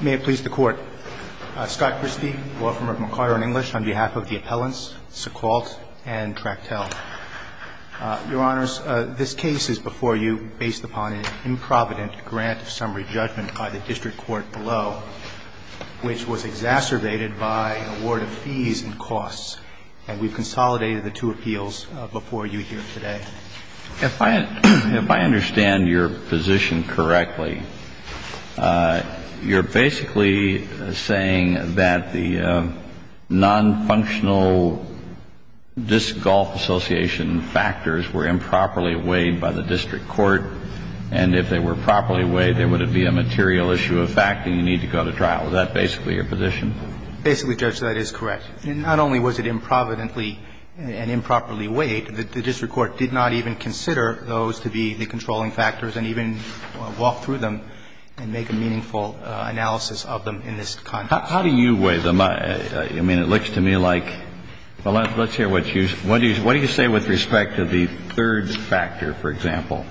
May it please the Court. Scott Christie, lawfirm of McCarter & English, on behalf of the appellants Sequalt and Tractel. Your Honors, this case is before you based upon an improvident grant of summary judgment by the district court below, which was exacerbated by an award of fees and costs. And we've consolidated the two appeals before you here today. If I understand your position correctly, you're basically saying that the nonfunctional disc golf association factors were improperly weighed by the district court, and if they were properly weighed, there would be a material issue of fact, and you need to go to trial. Is that basically your position? Basically, Judge, that is correct. Not only was it improvidently and improperly weighed, the district court did not even consider those to be the controlling factors and even walked through them and make a meaningful analysis of them in this context. How do you weigh them? I mean, it looks to me like – well, let's hear what you – what do you say with respect to the third factor, for example,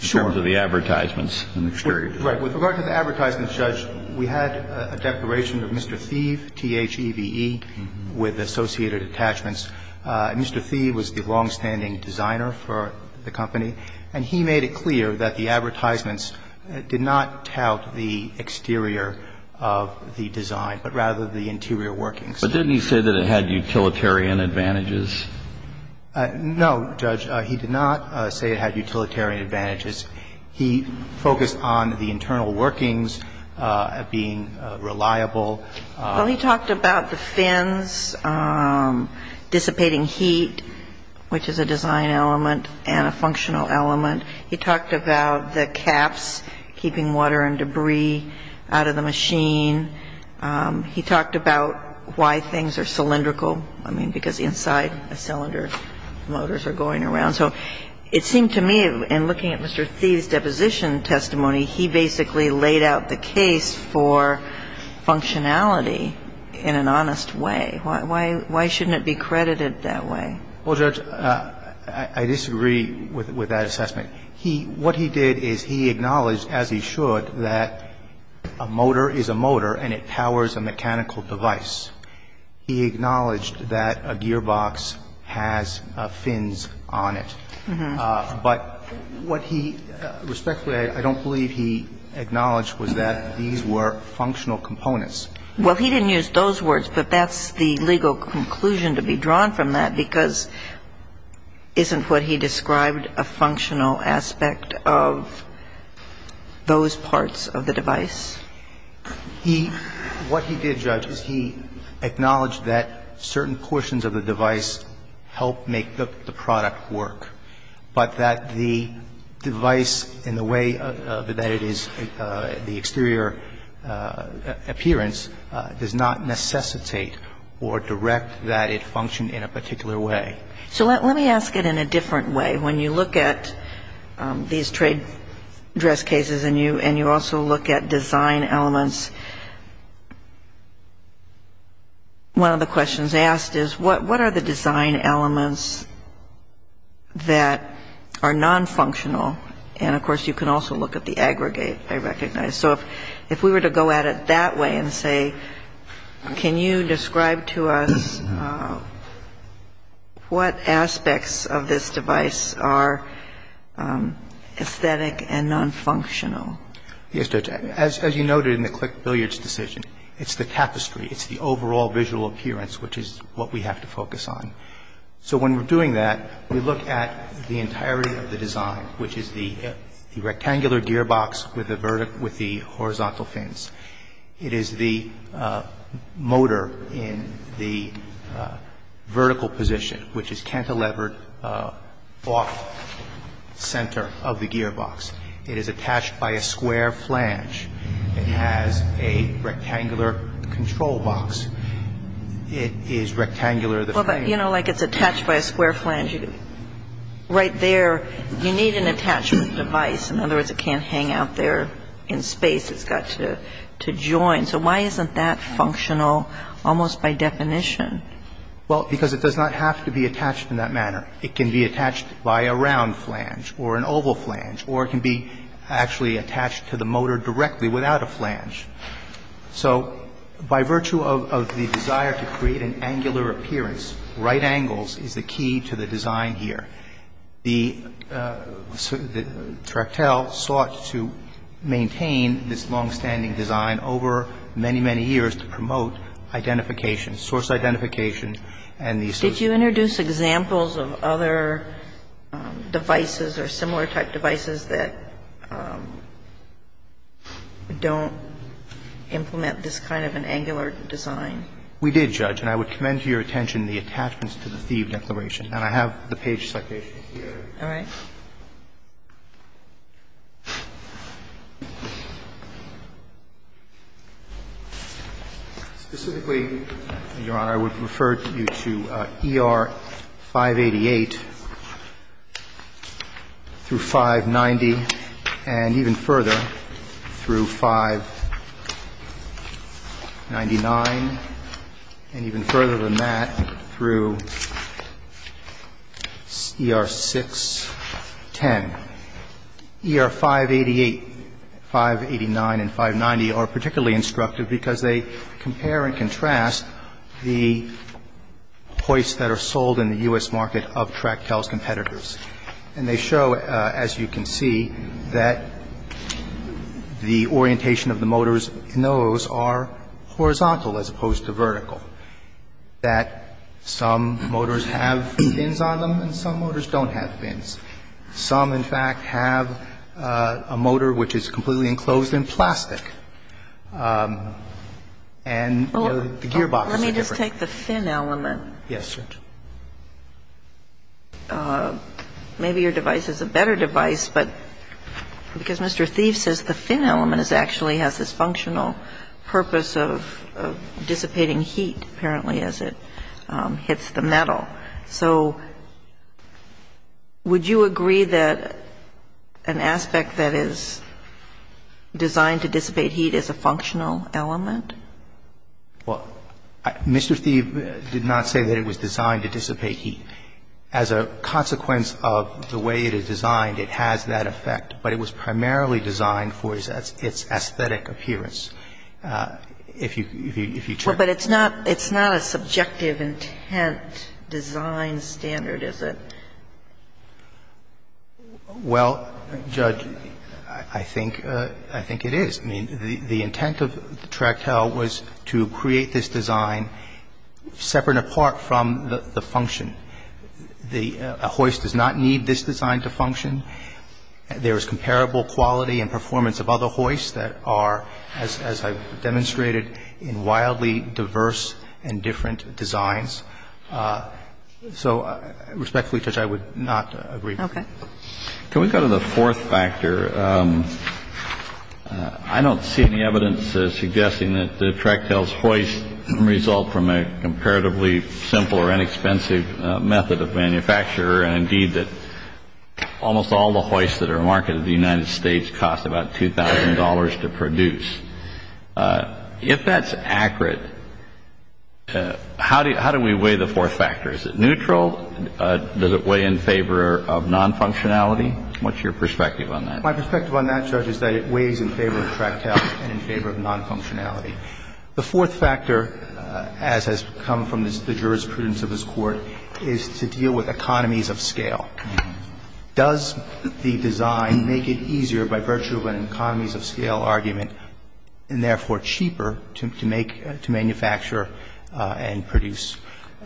in terms of the advertisements and the exterior? Right. With regard to the advertisements, Judge, we had a declaration of Mr. Thieve, T-h-e-v-e, with associated attachments. Mr. Thieve was the longstanding designer for the company, and he made it clear that the advertisements did not tout the exterior of the design, but rather the interior workings. But didn't he say that it had utilitarian advantages? No, Judge. He did not say it had utilitarian advantages. He focused on the internal workings of being reliable. Well, he talked about the fins dissipating heat, which is a design element and a functional element. He talked about the caps keeping water and debris out of the machine. He talked about why things are cylindrical. I mean, because inside a cylinder, motors are going around. So it seemed to me, in looking at Mr. Thieve's deposition testimony, he basically laid out the case for functionality in an honest way. Why shouldn't it be credited that way? Well, Judge, I disagree with that assessment. What he did is he acknowledged, as he should, that a motor is a motor and it powers a mechanical device. He acknowledged that a gearbox has fins on it. But what he respectfully, I don't believe he acknowledged, was that these were functional components. Well, he didn't use those words, but that's the legal conclusion to be drawn from that, because isn't what he described a functional aspect of those parts of the device? What he did, Judge, is he acknowledged that certain portions of the device help make the product work, but that the device in the way that it is, the exterior appearance, does not necessitate or direct that it function in a particular way. So let me ask it in a different way. When you look at these trade dress cases and you also look at design elements, one of the questions asked is, what are the design elements that are nonfunctional? And, of course, you can also look at the aggregate, I recognize. So if we were to go at it that way and say, can you describe to us what aspects of this device are aesthetic and nonfunctional? Yes, Judge. As you noted in the Click Billiards decision, it's the tapestry. It's the overall visual appearance, which is what we have to focus on. So when we're doing that, we look at the entirety of the design, which is the rectangular gearbox with the horizontal fins. It is the motor in the vertical position, which is cantilevered off center of the gearbox. It is attached by a square flange. It has a rectangular control box. It is rectangular. Well, but, you know, like it's attached by a square flange. Right there, you need an attachment device. In other words, it can't hang out there in space. It's got to join. So why isn't that functional almost by definition? Well, because it does not have to be attached in that manner. It can be attached by a round flange or an oval flange, or it can be actually attached to the motor directly without a flange. So by virtue of the desire to create an angular appearance, right angles is the key to the design here. The Tractel sought to maintain this longstanding design over many, many years to promote identification, source identification and the associated. Did you introduce examples of other devices or similar type devices that don't implement this kind of an angular design? We did, Judge. And I would commend to your attention the attachments to the Thieb declaration. And I have the page citation here. All right. Specifically, Your Honor, I would refer you to ER 588 through 590 and even further through 599 and even further than that through ER 610. ER 588, 589 and 590 are particularly instructive because they compare and contrast the hoists that are sold in the U.S. And they show, as you can see, that the orientation of the motors in those are horizontal as opposed to vertical, that some motors have fins on them and some motors don't have fins. Some, in fact, have a motor which is completely enclosed in plastic. And the gearboxes are different. Let me just take the fin element. Yes, Judge. Maybe your device is a better device, but because Mr. Thieb says the fin element actually has this functional purpose of dissipating heat, apparently, as it hits the metal. So would you agree that an aspect that is designed to dissipate heat is a functional element? Well, Mr. Thieb did not say that it was designed to dissipate heat. As a consequence of the way it is designed, it has that effect. But it was primarily designed for its aesthetic appearance, if you check. Well, but it's not a subjective intent design standard, is it? Well, Judge, I think it is. I mean, the intent of the tractile was to create this design separate and apart from the function. A hoist does not need this design to function. There is comparable quality and performance of other hoists that are, as I've demonstrated, in wildly diverse and different designs. So respectfully, Judge, I would not agree. Okay. Can we go to the fourth factor? I don't see any evidence suggesting that the tractile's hoist result from a comparatively simple or inexpensive method of manufacture, and indeed that almost all the hoists that are marketed in the United States cost about $2,000 to produce. If that's accurate, how do we weigh the fourth factor? Is it neutral? Does it weigh in favor of non-functionality? What's your perspective on that? My perspective on that, Judge, is that it weighs in favor of tractile and in favor of non-functionality. The fourth factor, as has come from the jurisprudence of this Court, is to deal with economies of scale. Does the design make it easier by virtue of an economies of scale argument and therefore cheaper to make, to manufacture and produce?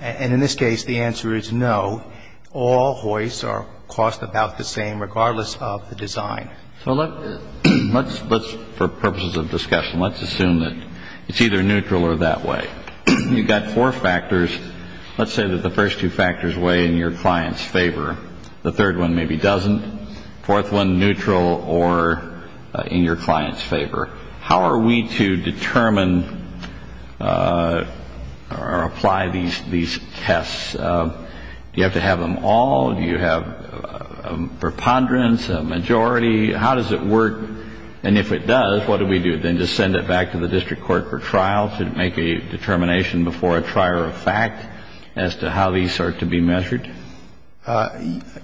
And in this case, the answer is no. All hoists are cost about the same, regardless of the design. So let's, for purposes of discussion, let's assume that it's either neutral or that way. You've got four factors. Let's say that the first two factors weigh in your client's favor. The third one maybe doesn't. Fourth one, neutral or in your client's favor. How are we to determine or apply these tests? Do you have to have them all? Do you have a preponderance, a majority? How does it work? And if it does, what do we do? Then just send it back to the district court for trial to make a determination before a trier of fact as to how these are to be measured?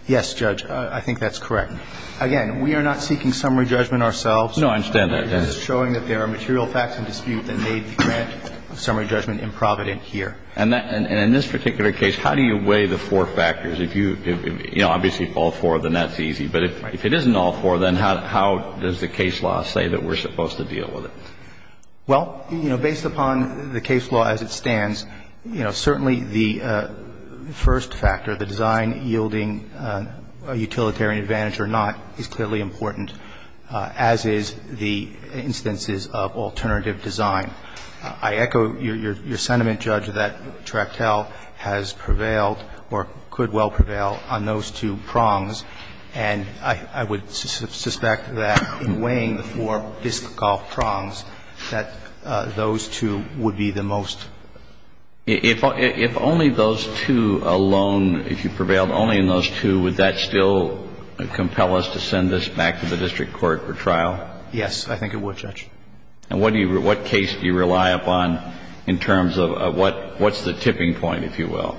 Yes, Judge. I think that's correct. Again, we are not seeking summary judgment ourselves. No, I understand that. It is showing that there are material facts in dispute that may grant a summary judgment in Provident here. And in this particular case, how do you weigh the four factors? If you, you know, obviously all four, then that's easy. But if it isn't all four, then how does the case law say that we're supposed to deal with it? Well, you know, based upon the case law as it stands, you know, certainly the first factor, the design yielding a utilitarian advantage or not, is clearly important, as is the instances of alternative design. I echo your sentiment, Judge, that Tractel has prevailed or could well prevail on those two prongs. And I would suspect that in weighing the four fiscal prongs, that those two would be the most. If only those two alone, if you prevailed only in those two, would that still compel us to send this back to the district court for trial? Yes, I think it would, Judge. And what case do you rely upon in terms of what's the tipping point, if you will,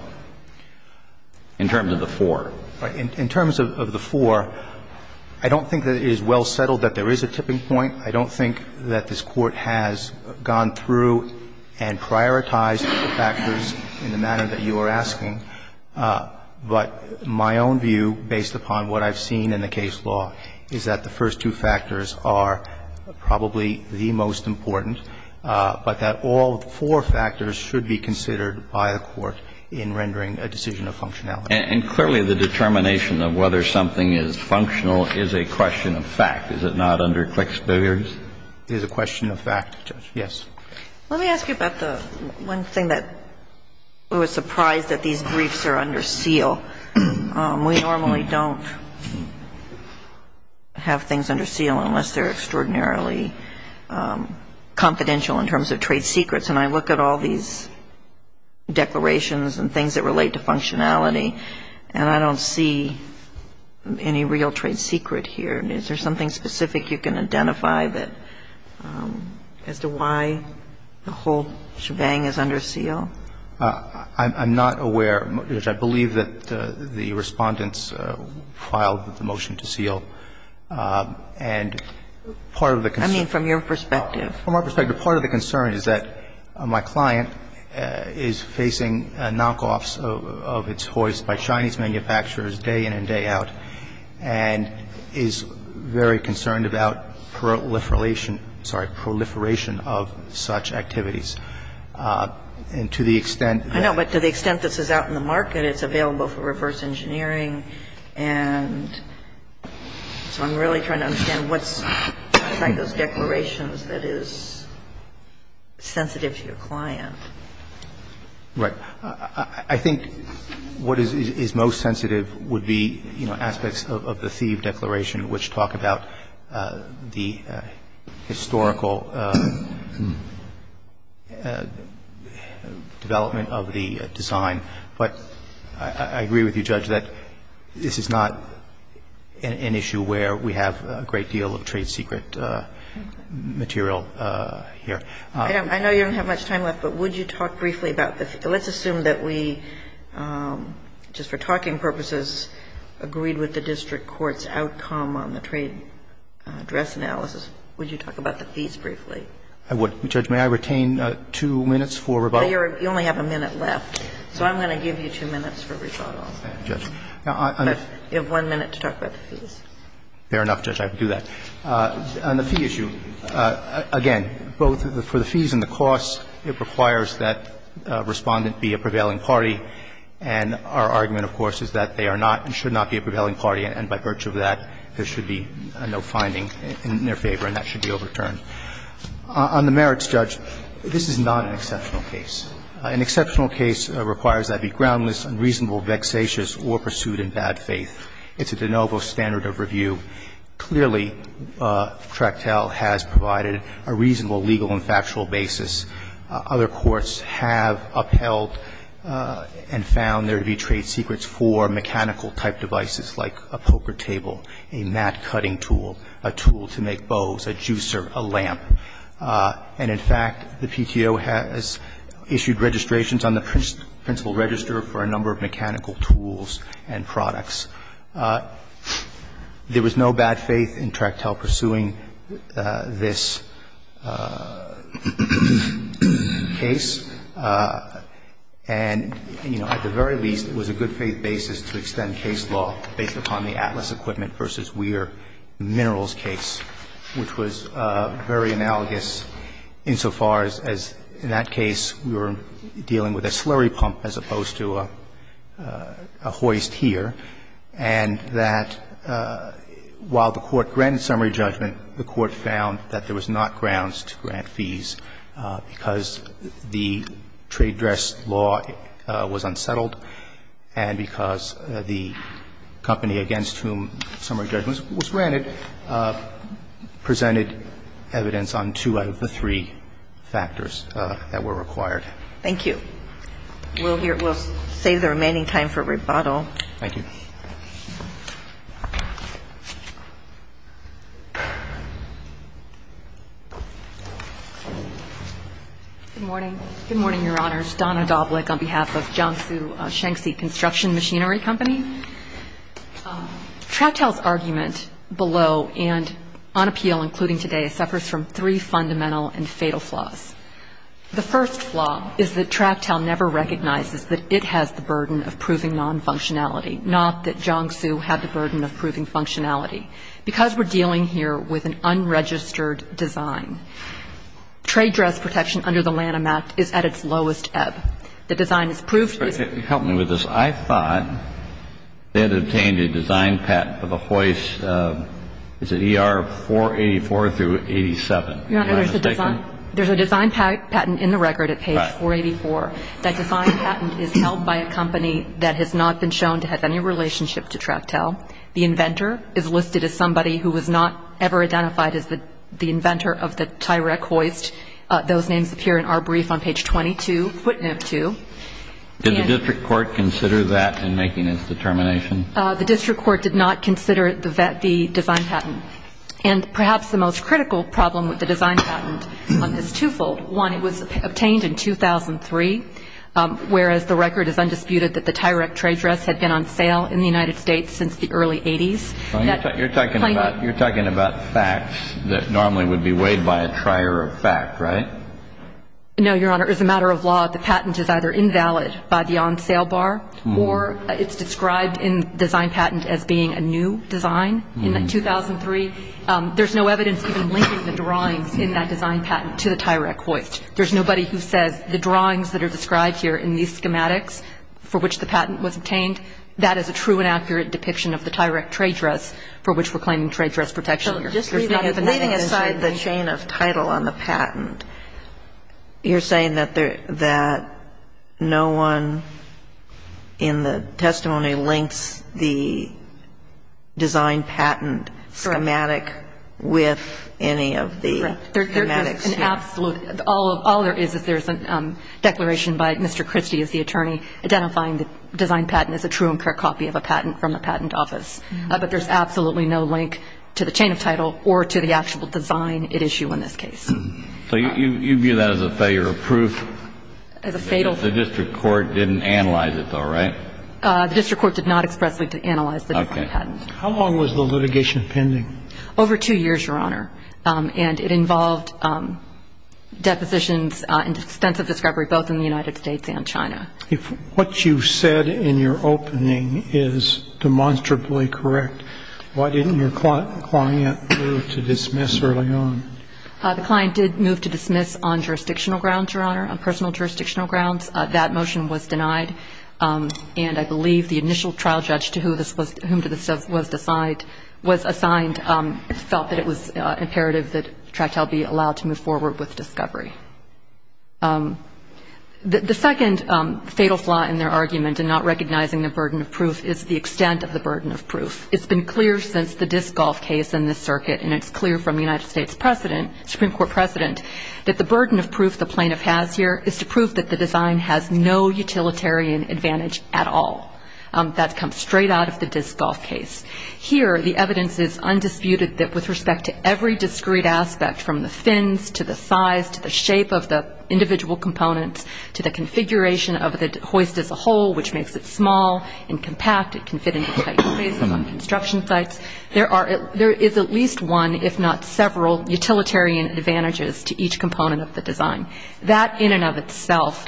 in terms of the four? In terms of the four, I don't think that it is well settled that there is a tipping point. I don't think that this Court has gone through and prioritized the factors in the But my own view, based upon what I've seen in the case law, is that the first two factors are probably the most important, but that all four factors should be considered by the Court in rendering a decision of functionality. And clearly, the determination of whether something is functional is a question of fact. Is it not under Click's billiards? It is a question of fact, Judge. Yes. Let me ask you about the one thing that I was surprised that these briefs are under seal. We normally don't have things under seal unless they're extraordinarily confidential in terms of trade secrets. And I look at all these declarations and things that relate to functionality, and I don't see any real trade secret here. Is there something specific you can identify that as to why the whole shebang is under seal? I'm not aware, Judge. I believe that the Respondents filed the motion to seal. And part of the concern. I mean, from your perspective. From our perspective, part of the concern is that my client is facing knockoffs of its hoists by Chinese manufacturers day in and day out, and is very concerned about proliferation of such activities. And to the extent that. I know. But to the extent this is out in the market, it's available for reverse engineering. And so I'm really trying to understand what's behind those declarations that is sensitive to your client. Right. I think what is most sensitive would be, you know, aspects of the Thieve Declaration, which talk about the historical development of the design. But I agree with you, Judge, that this is not an issue where we have a great deal of trade secret material here. I know you don't have much time left, but would you talk briefly about the fees? Let's assume that we, just for talking purposes, agreed with the district court's outcome on the trade address analysis. Would you talk about the fees briefly? I would, Judge. May I retain two minutes for rebuttal? You only have a minute left. So I'm going to give you two minutes for rebuttal. Okay, Judge. You have one minute to talk about the fees. Fair enough, Judge. I can do that. On the fee issue, again, both for the fees and the costs, it requires that Respondent be a prevailing party, and our argument, of course, is that they are not and should not be a prevailing party, and by virtue of that, there should be no finding in their favor, and that should be overturned. On the merits, Judge, this is not an exceptional case. An exceptional case requires that it be groundless, unreasonable, vexatious, or pursued in bad faith. It's a de novo standard of review. Clearly, Tractel has provided a reasonable legal and factual basis. Other courts have upheld and found there to be trade secrets for mechanical-type devices like a poker table, a mat cutting tool, a tool to make bows, a juicer, a lamp. And in fact, the PTO has issued registrations on the principal register for a number of mechanical tools and products. There was no bad faith in Tractel pursuing this case. And, you know, at the very least, it was a good faith basis to extend case law based upon the Atlas Equipment v. Weir Minerals case, which was very analogous insofar as, in that case, we were dealing with a slurry pump as opposed to a hoist here. And that while the Court granted summary judgment, the Court found that there was not grounds to grant fees because the trade dress law was unsettled and because the company against whom summary judgment was granted presented evidence on two out of the three factors that were required. Thank you. We'll save the remaining time for rebuttal. Thank you. Good morning. Good morning, Your Honors. Donna Doblik on behalf of Jiangsu-Shanxi Construction Machinery Company. Tractel's argument below and on appeal including today suffers from three fundamental and fatal flaws. The first flaw is that Tractel never recognizes that it has the burden of proving nonfunctionality, non-functionality. The third flaw is that Tractel does not recognize that it has the burden of proving The fourth flaw is that Tractel does not recognize that Jiangsu had the burden of proving functionality. Because we're dealing here with an unregistered design, trade dress protection under the Lanham Act is at its lowest ebb. The design has proved Help me with this. I thought they had obtained a design patent for the hoist. Is it ER 484 through 87? Your Honor, there's a design patent in the record at page 484. That design patent is held by a company that has not been shown to have any relationship to Tractel. The inventor is listed as somebody who was not ever identified as the inventor of the Tyrek hoist. Those names appear in our brief on page 22, footnote 2. Did the district court consider that in making its determination? The district court did not consider the design patent. And perhaps the most critical problem with the design patent is twofold. One, it was obtained in 2003, whereas the record is undisputed that the Tyrek trade dress had been on sale in the United States since the early 80s. You're talking about facts that normally would be weighed by a trier of fact, right? No, Your Honor. As a matter of law, the patent is either invalid by the on-sale bar or it's described in the design patent as being a new design in 2003. There's no evidence even linking the drawings in that design patent to the Tyrek hoist. There's nobody who says the drawings that are described here in these schematics for which the patent was obtained, that is a true and accurate depiction of the Tyrek trade dress for which we're claiming trade dress protection here. So just leaving aside the chain of title on the patent, you're saying that there – that no one in the testimony links the design patent schematic with any of the schematics here? Correct. There is an absolute – all there is is there's a declaration by Mr. Christie as the attorney identifying the design patent as a true and correct copy of a patent from the patent office. But there's absolutely no link to the chain of title or to the actual design it issued in this case. So you view that as a failure of proof? As a fatal – The district court didn't analyze it though, right? The district court did not expressly analyze the design patent. Okay. How long was the litigation pending? Over two years, Your Honor. And it involved depositions and extensive discovery both in the United States and China. What you said in your opening is demonstrably correct. Why didn't your client move to dismiss early on? The client did move to dismiss on jurisdictional grounds, Your Honor, on personal jurisdictional grounds. That motion was denied. And I believe the initial trial judge to whom this was – whom this was assigned felt that it was imperative that Tractel be allowed to move forward with discovery. The second fatal flaw in their argument in not recognizing the burden of proof is the extent of the burden of proof. It's been clear since the disc golf case in this circuit, and it's clear from the United States president, Supreme Court president, that the burden of proof the plaintiff has here is to prove that the design has no utilitarian advantage at all. That comes straight out of the disc golf case. Here, the evidence is undisputed that with respect to every discrete aspect from the fins to the size to the shape of the individual components to the configuration of the hoist as a whole, which makes it small and compact, it can fit into tight spaces on construction sites, there is at least one, if not several, utilitarian advantages to each component of the design. That in and of itself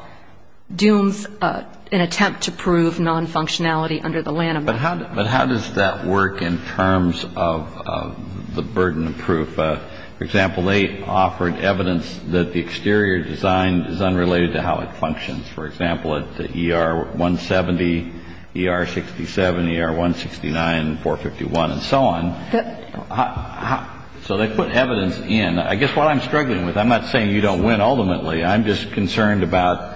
dooms an attempt to prove non-functionality under the Lanham Act. But how does that work in terms of the burden of proof? For example, they offered evidence that the exterior design is unrelated to how it functions. For example, at ER 170, ER 67, ER 169, 451, and so on. So they put evidence in. I guess what I'm struggling with, I'm not saying you don't win ultimately. I'm just concerned about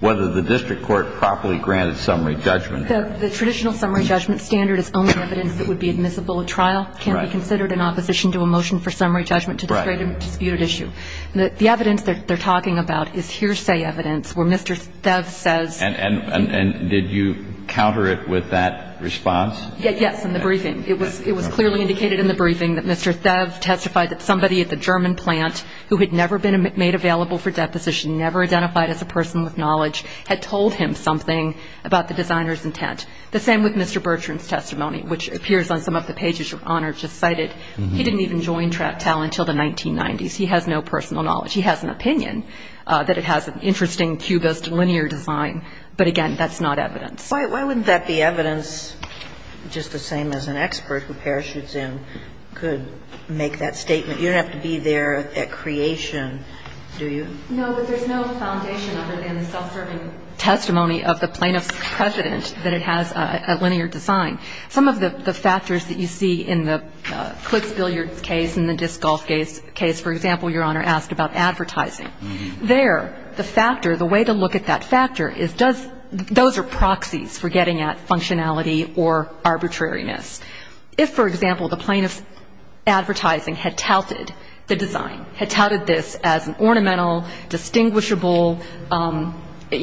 whether the district court properly granted summary judgment. The traditional summary judgment standard is only evidence that would be admissible in trial, can't be considered in opposition to a motion for summary judgment to this great and disputed issue. The evidence that they're talking about is hearsay evidence where Mr. Theves says. And did you counter it with that response? Yes, in the briefing. It was clearly indicated in the briefing that Mr. Theves testified that somebody at the German plant who had never been made available for deposition, never identified as a person with knowledge, had told him something about the designer's intent. The same with Mr. Bertrand's testimony, which appears on some of the pages Your Honor just cited. He didn't even join TAL until the 1990s. He has no personal knowledge. He has an opinion that it has an interesting cubist linear design. But, again, that's not evidence. Why wouldn't that be evidence, just the same as an expert who parachutes in could make that statement? You don't have to be there at creation, do you? No, but there's no foundation other than the self-serving testimony of the plaintiff's And there's no precedent that it has a linear design. Some of the factors that you see in the Clicksbill case and the Dissgolf case, for example, Your Honor asked about advertising. There the factor, the way to look at that factor is does – those are proxies for getting at functionality or arbitrariness. If, for example, the plaintiff's advertising had touted the design, had touted this as an ornamental, distinguishable –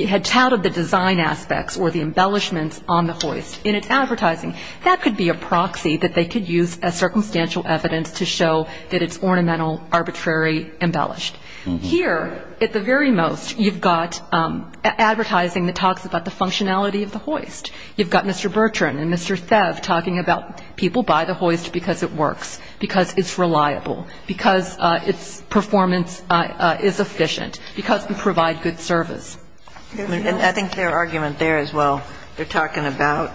had touted the design aspects or the embellishments on the hoist in its advertising, that could be a proxy that they could use as circumstantial evidence to show that it's ornamental, arbitrary, embellished. Here, at the very most, you've got advertising that talks about the functionality of the hoist. You've got Mr. Bertrand and Mr. Thev talking about people buy the hoist because it works, because it's reliable, because its performance is efficient, because we provide good service. And I think their argument there is, well, they're talking about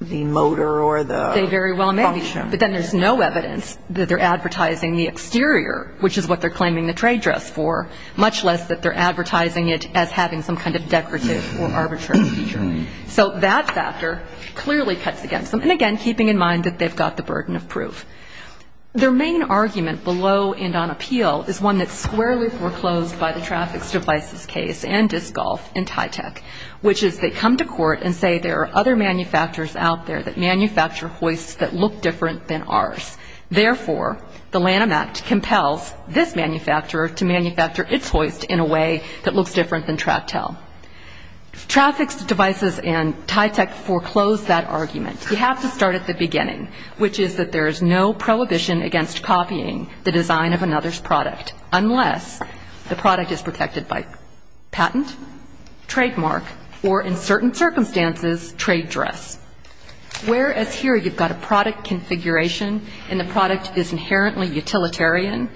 the motor or the function. They very well may. But then there's no evidence that they're advertising the exterior, which is what they're claiming the trade dress for, much less that they're advertising it as having some kind of decorative or arbitrary feature. So that factor clearly cuts against them. And again, keeping in mind that they've got the burden of proof. Their main argument below and on appeal is one that's squarely foreclosed by the Traffic Devices case and Disc Golf and TYTEC, which is they come to court and say there are other manufacturers out there that manufacture hoists that look different than ours. Therefore, the Lanham Act compels this manufacturer to manufacture its hoist in a way that looks different than TRACTEL. Traffic Devices and TYTEC foreclose that argument. You have to start at the beginning, which is that there is no prohibition against copying the design of another's product unless the product is protected by patent, trademark, or in certain circumstances, trade dress. Whereas here you've got a product configuration and the product is inherently utilitarian.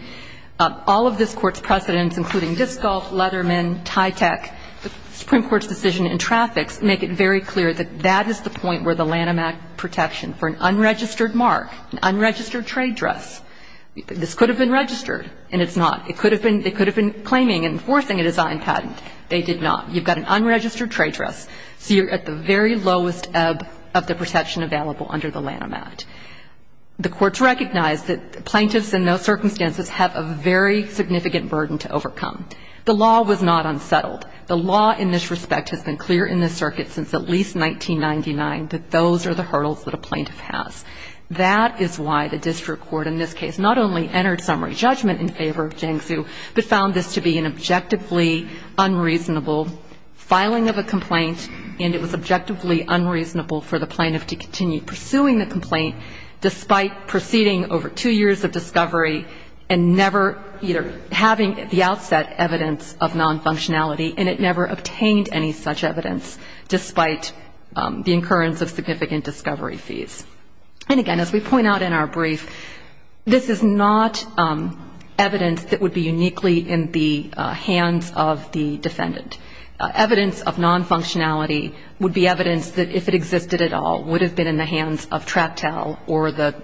All of this court's precedents, including Disc Golf, Leatherman, TYTEC, the Supreme Court's decision in traffics make it very clear that that is the point where the Lanham Act protection for an unregistered mark, an unregistered trade dress, this could have been registered, and it's not. It could have been claiming and enforcing a design patent. They did not. You've got an unregistered trade dress, so you're at the very lowest ebb of the protection available under the Lanham Act. The courts recognize that plaintiffs in those circumstances have a very significant burden to overcome. The law was not unsettled. The law in this respect has been clear in this circuit since at least 1999 that those are the hurdles that a plaintiff has. That is why the district court in this case not only entered summary judgment in favor of Jiangsu, but found this to be an objectively unreasonable filing of a complaint and it was objectively unreasonable for the plaintiff to continue pursuing the complaint despite proceeding over two years of discovery and never either having at the outset evidence of non-functionality and it never obtained any such evidence despite the incurrence of significant discovery fees. And again, as we point out in our brief, this is not evidence that would be uniquely in the hands of the defendant. Evidence of non-functionality would be evidence that if it existed at all would have been in the hands of Tractel or the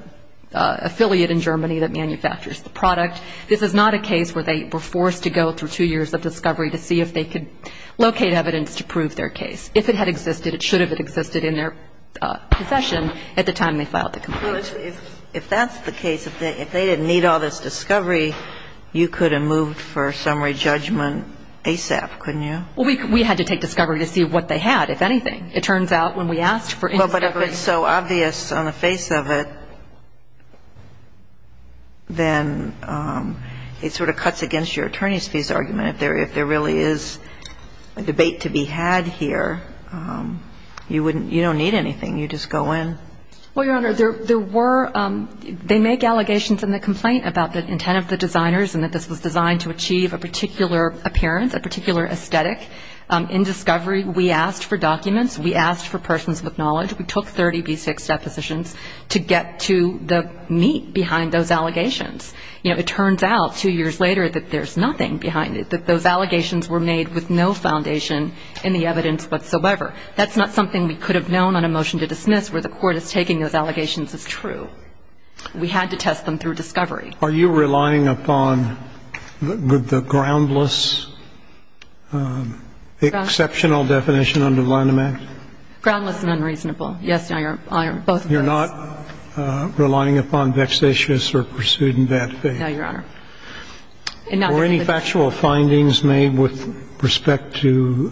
affiliate in Germany that manufactures the product. This is not a case where they were forced to go through two years of discovery to see if they could locate evidence to prove their case. If it had existed, it should have existed in their possession at the time they filed the complaint. If that's the case, if they didn't need all this discovery, you could have moved for summary judgment ASAP, couldn't you? Well, we had to take discovery to see what they had, if anything. It turns out when we asked for any discovery. But if it's so obvious on the face of it, then it sort of cuts against your attorney's fees argument. If there really is a debate to be had here, you wouldn't, you don't need anything. You just go in. Well, Your Honor, there were, they make allegations in the complaint about the intent of the designers and that this was designed to achieve a particular appearance, a particular aesthetic. In discovery, we asked for documents. We asked for persons with knowledge. We took 30B6 depositions to get to the meat behind those allegations. You know, it turns out two years later that there's nothing behind it, that those allegations were made with no foundation in the evidence whatsoever. That's not something we could have known on a motion to dismiss where the court is taking those allegations as true. We had to test them through discovery. Are you relying upon the groundless exceptional definition under the Lanham Act? Groundless and unreasonable. Yes, Your Honor. Both of those. You're not relying upon vexatious or pursued in bad faith? No, Your Honor. Were any factual findings made with respect to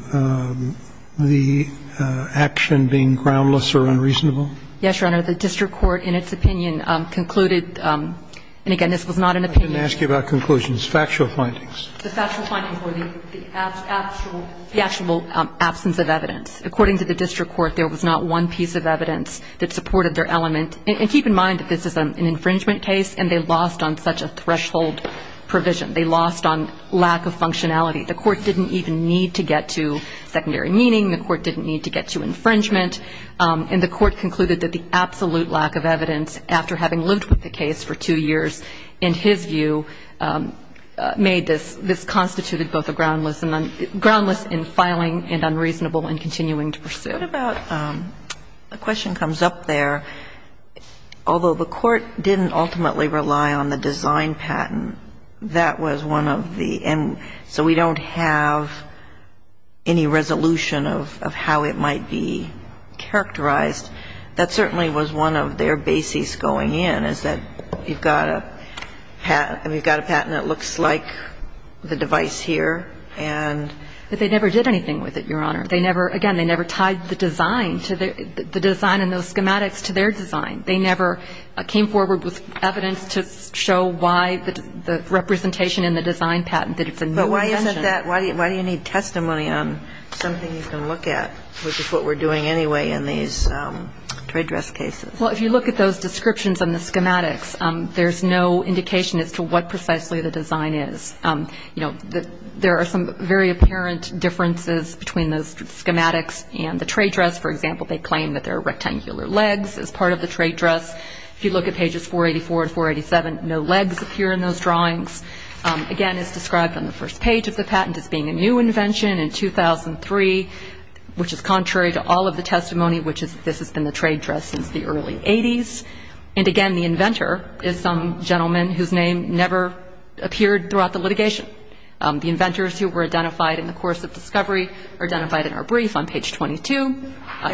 the action being groundless or unreasonable? Yes, Your Honor. The district court, in its opinion, concluded, and again, this was not an opinion. I didn't ask you about conclusions. Factual findings. The factual findings were the actual absence of evidence. According to the district court, there was not one piece of evidence that supported their element. And keep in mind that this is an infringement case, and they lost on such a threshold provision. They lost on lack of functionality. The court didn't even need to get to secondary meaning. The court didn't need to get to infringement. And the court concluded that the absolute lack of evidence, after having lived with the case for two years, in his view, made this, this constituted both a groundless and unreasonable and continuing to pursue. What about, the question comes up there, although the court didn't ultimately rely on the design patent, that was one of the, and so we don't have any resolution of how it might be characterized. That certainly was one of their bases going in, is that you've got a patent that looks like the device here, and. But they never did anything with it, Your Honor. They never, again, they never tied the design to the, the design and those schematics to their design. They never came forward with evidence to show why the representation in the design patent, that it's a new invention. But why isn't that, why do you need testimony on something you can look at, which is what we're doing anyway in these trade dress cases? Well, if you look at those descriptions and the schematics, there's no indication as to what precisely the design is. You know, there are some very apparent differences between those schematics and the trade dress. For example, they claim that there are rectangular legs as part of the trade dress. If you look at pages 484 and 487, no legs appear in those drawings. Again, it's described on the first page of the patent as being a new invention in 2003, which is contrary to all of the testimony, which is this has been the trade dress since the early 80s. And again, the inventor is some gentleman whose name never appeared throughout the litigation. The inventors who were identified in the course of discovery are identified in our brief on page 22.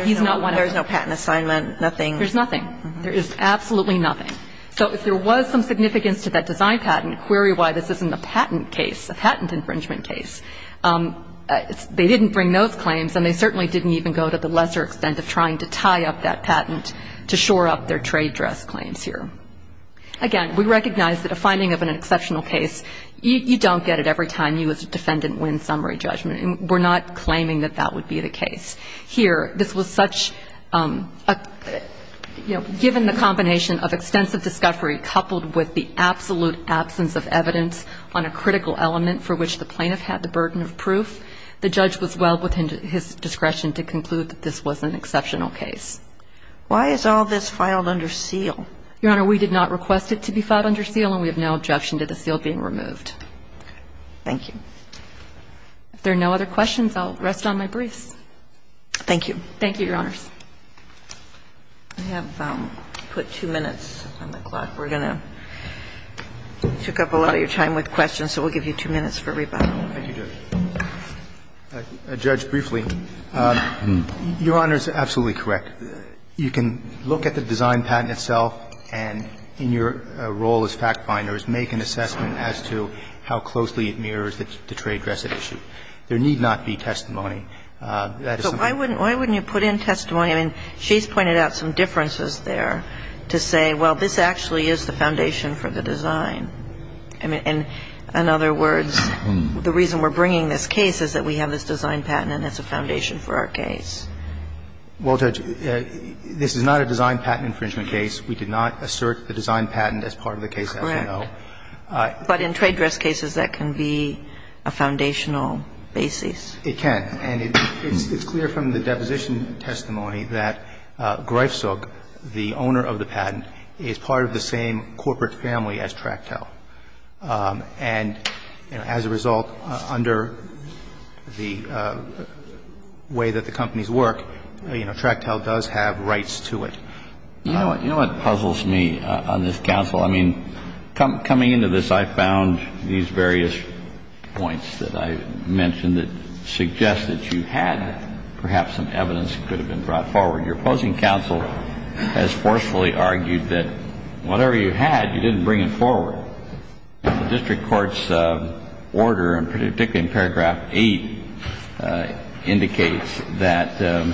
He's not one of them. There's no patent assignment, nothing. There's nothing. There is absolutely nothing. So if there was some significance to that design patent, query why this isn't a patent case, a patent infringement case. They didn't bring those claims, and they certainly didn't even go to the lesser extent of trying to tie up that patent to shore up their trade dress claims here. Again, we recognize that a finding of an exceptional case, you don't get it every time you as a defendant win summary judgment. And we're not claiming that that would be the case. Here, this was such a, you know, given the combination of extensive discovery coupled with the absolute absence of evidence on a critical element for which the plaintiff had the burden of proof, the judge was well within his discretion to conclude that this was an exceptional case. Why is all this filed under seal? Your Honor, we did not request it to be filed under seal, and we have no objection to the seal being removed. Okay. Thank you. If there are no other questions, I'll rest on my briefs. Thank you. Thank you, Your Honors. I have put two minutes on the clock. We're going to take up a lot of your time with questions, so we'll give you two minutes for rebuttal. Thank you, Judge. Judge, briefly, Your Honor is absolutely correct. You can look at the design patent itself and, in your role as fact finders, make an assessment as to how closely it mirrors the Trey Dresset issue. There need not be testimony. That is something we need. So why wouldn't you put in testimony? I mean, she's pointed out some differences there to say, well, this actually is the foundation for the design. I mean, in other words, the reason we're bringing this case is that we have this design patent and it's a foundation for our case. Well, Judge, this is not a design patent infringement case. We did not assert the design patent as part of the case, as you know. Correct. But in trade dress cases, that can be a foundational basis. It can. And it's clear from the deposition testimony that Greifzug, the owner of the patent, is part of the same corporate family as Tractel. And, you know, as a result, under the way that the companies work, you know, Tractel does have rights to it. You know what puzzles me on this, counsel? I mean, coming into this, I found these various points that I mentioned that suggest that you had perhaps some evidence that could have been brought forward. Your opposing counsel has forcefully argued that whatever you had, you didn't bring forward. The district court's order, particularly in paragraph 8, indicates that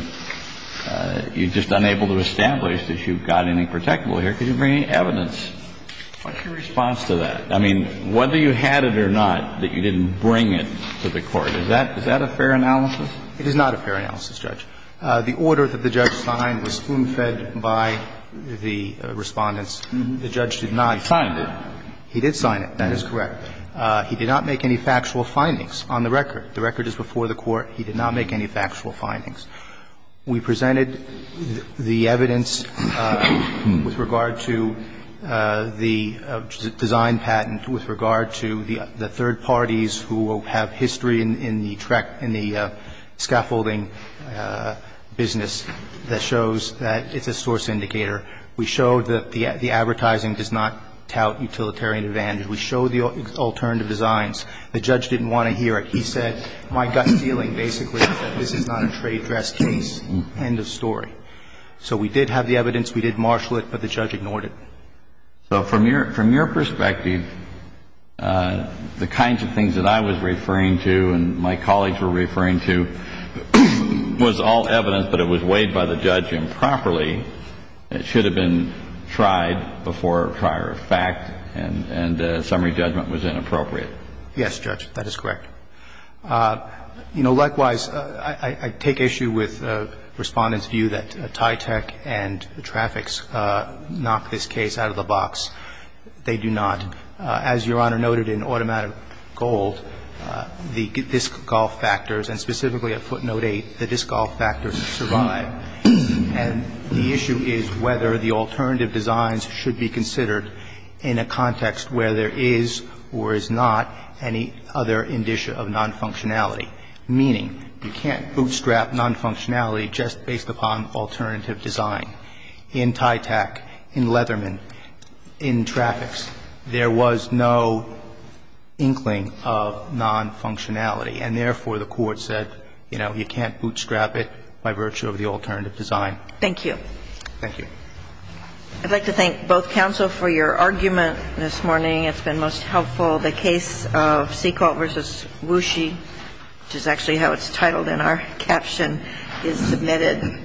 you're just unable to establish that you've got anything protectable here. Could you bring any evidence? What's your response to that? I mean, whether you had it or not, that you didn't bring it to the court, is that a fair analysis? It is not a fair analysis, Judge. The order that the judge signed was spoon-fed by the Respondents. The judge did not. He signed it. He did sign it. That is correct. He did not make any factual findings on the record. The record is before the Court. He did not make any factual findings. We presented the evidence with regard to the design patent, with regard to the third parties who have history in the scaffolding business that shows that it's a source indicator. We showed that the advertising does not tout utilitarian advantage. We showed the alternative designs. The judge didn't want to hear it. He said, my gut feeling basically is that this is not a trade dress case. End of story. So we did have the evidence. We did marshal it. But the judge ignored it. So from your perspective, the kinds of things that I was referring to and my colleagues were referring to was all evidence, but it was weighed by the judge improperly. It should have been tried before prior fact, and summary judgment was inappropriate. Yes, Judge. That is correct. You know, likewise, I take issue with Respondents' view that TYTEC and the traffics knock this case out of the box. They do not. As Your Honor noted in Automatic Gold, the disc golf factors, and specifically at footnote 8, the disc golf factors survive. And the issue is whether the alternative designs should be considered in a context where there is or is not any other indicia of nonfunctionality, meaning you can't bootstrap nonfunctionality just based upon alternative design. In TYTEC, in Leatherman, in traffics, there was no inkling of nonfunctionality, and therefore the Court said, you know, you can't bootstrap it by virtue of the alternative design. Thank you. Thank you. I'd like to thank both counsel for your argument this morning. It's been most helpful. The case of Seacolt v. Wooshy, which is actually how it's titled in our caption, is submitted. Thank you.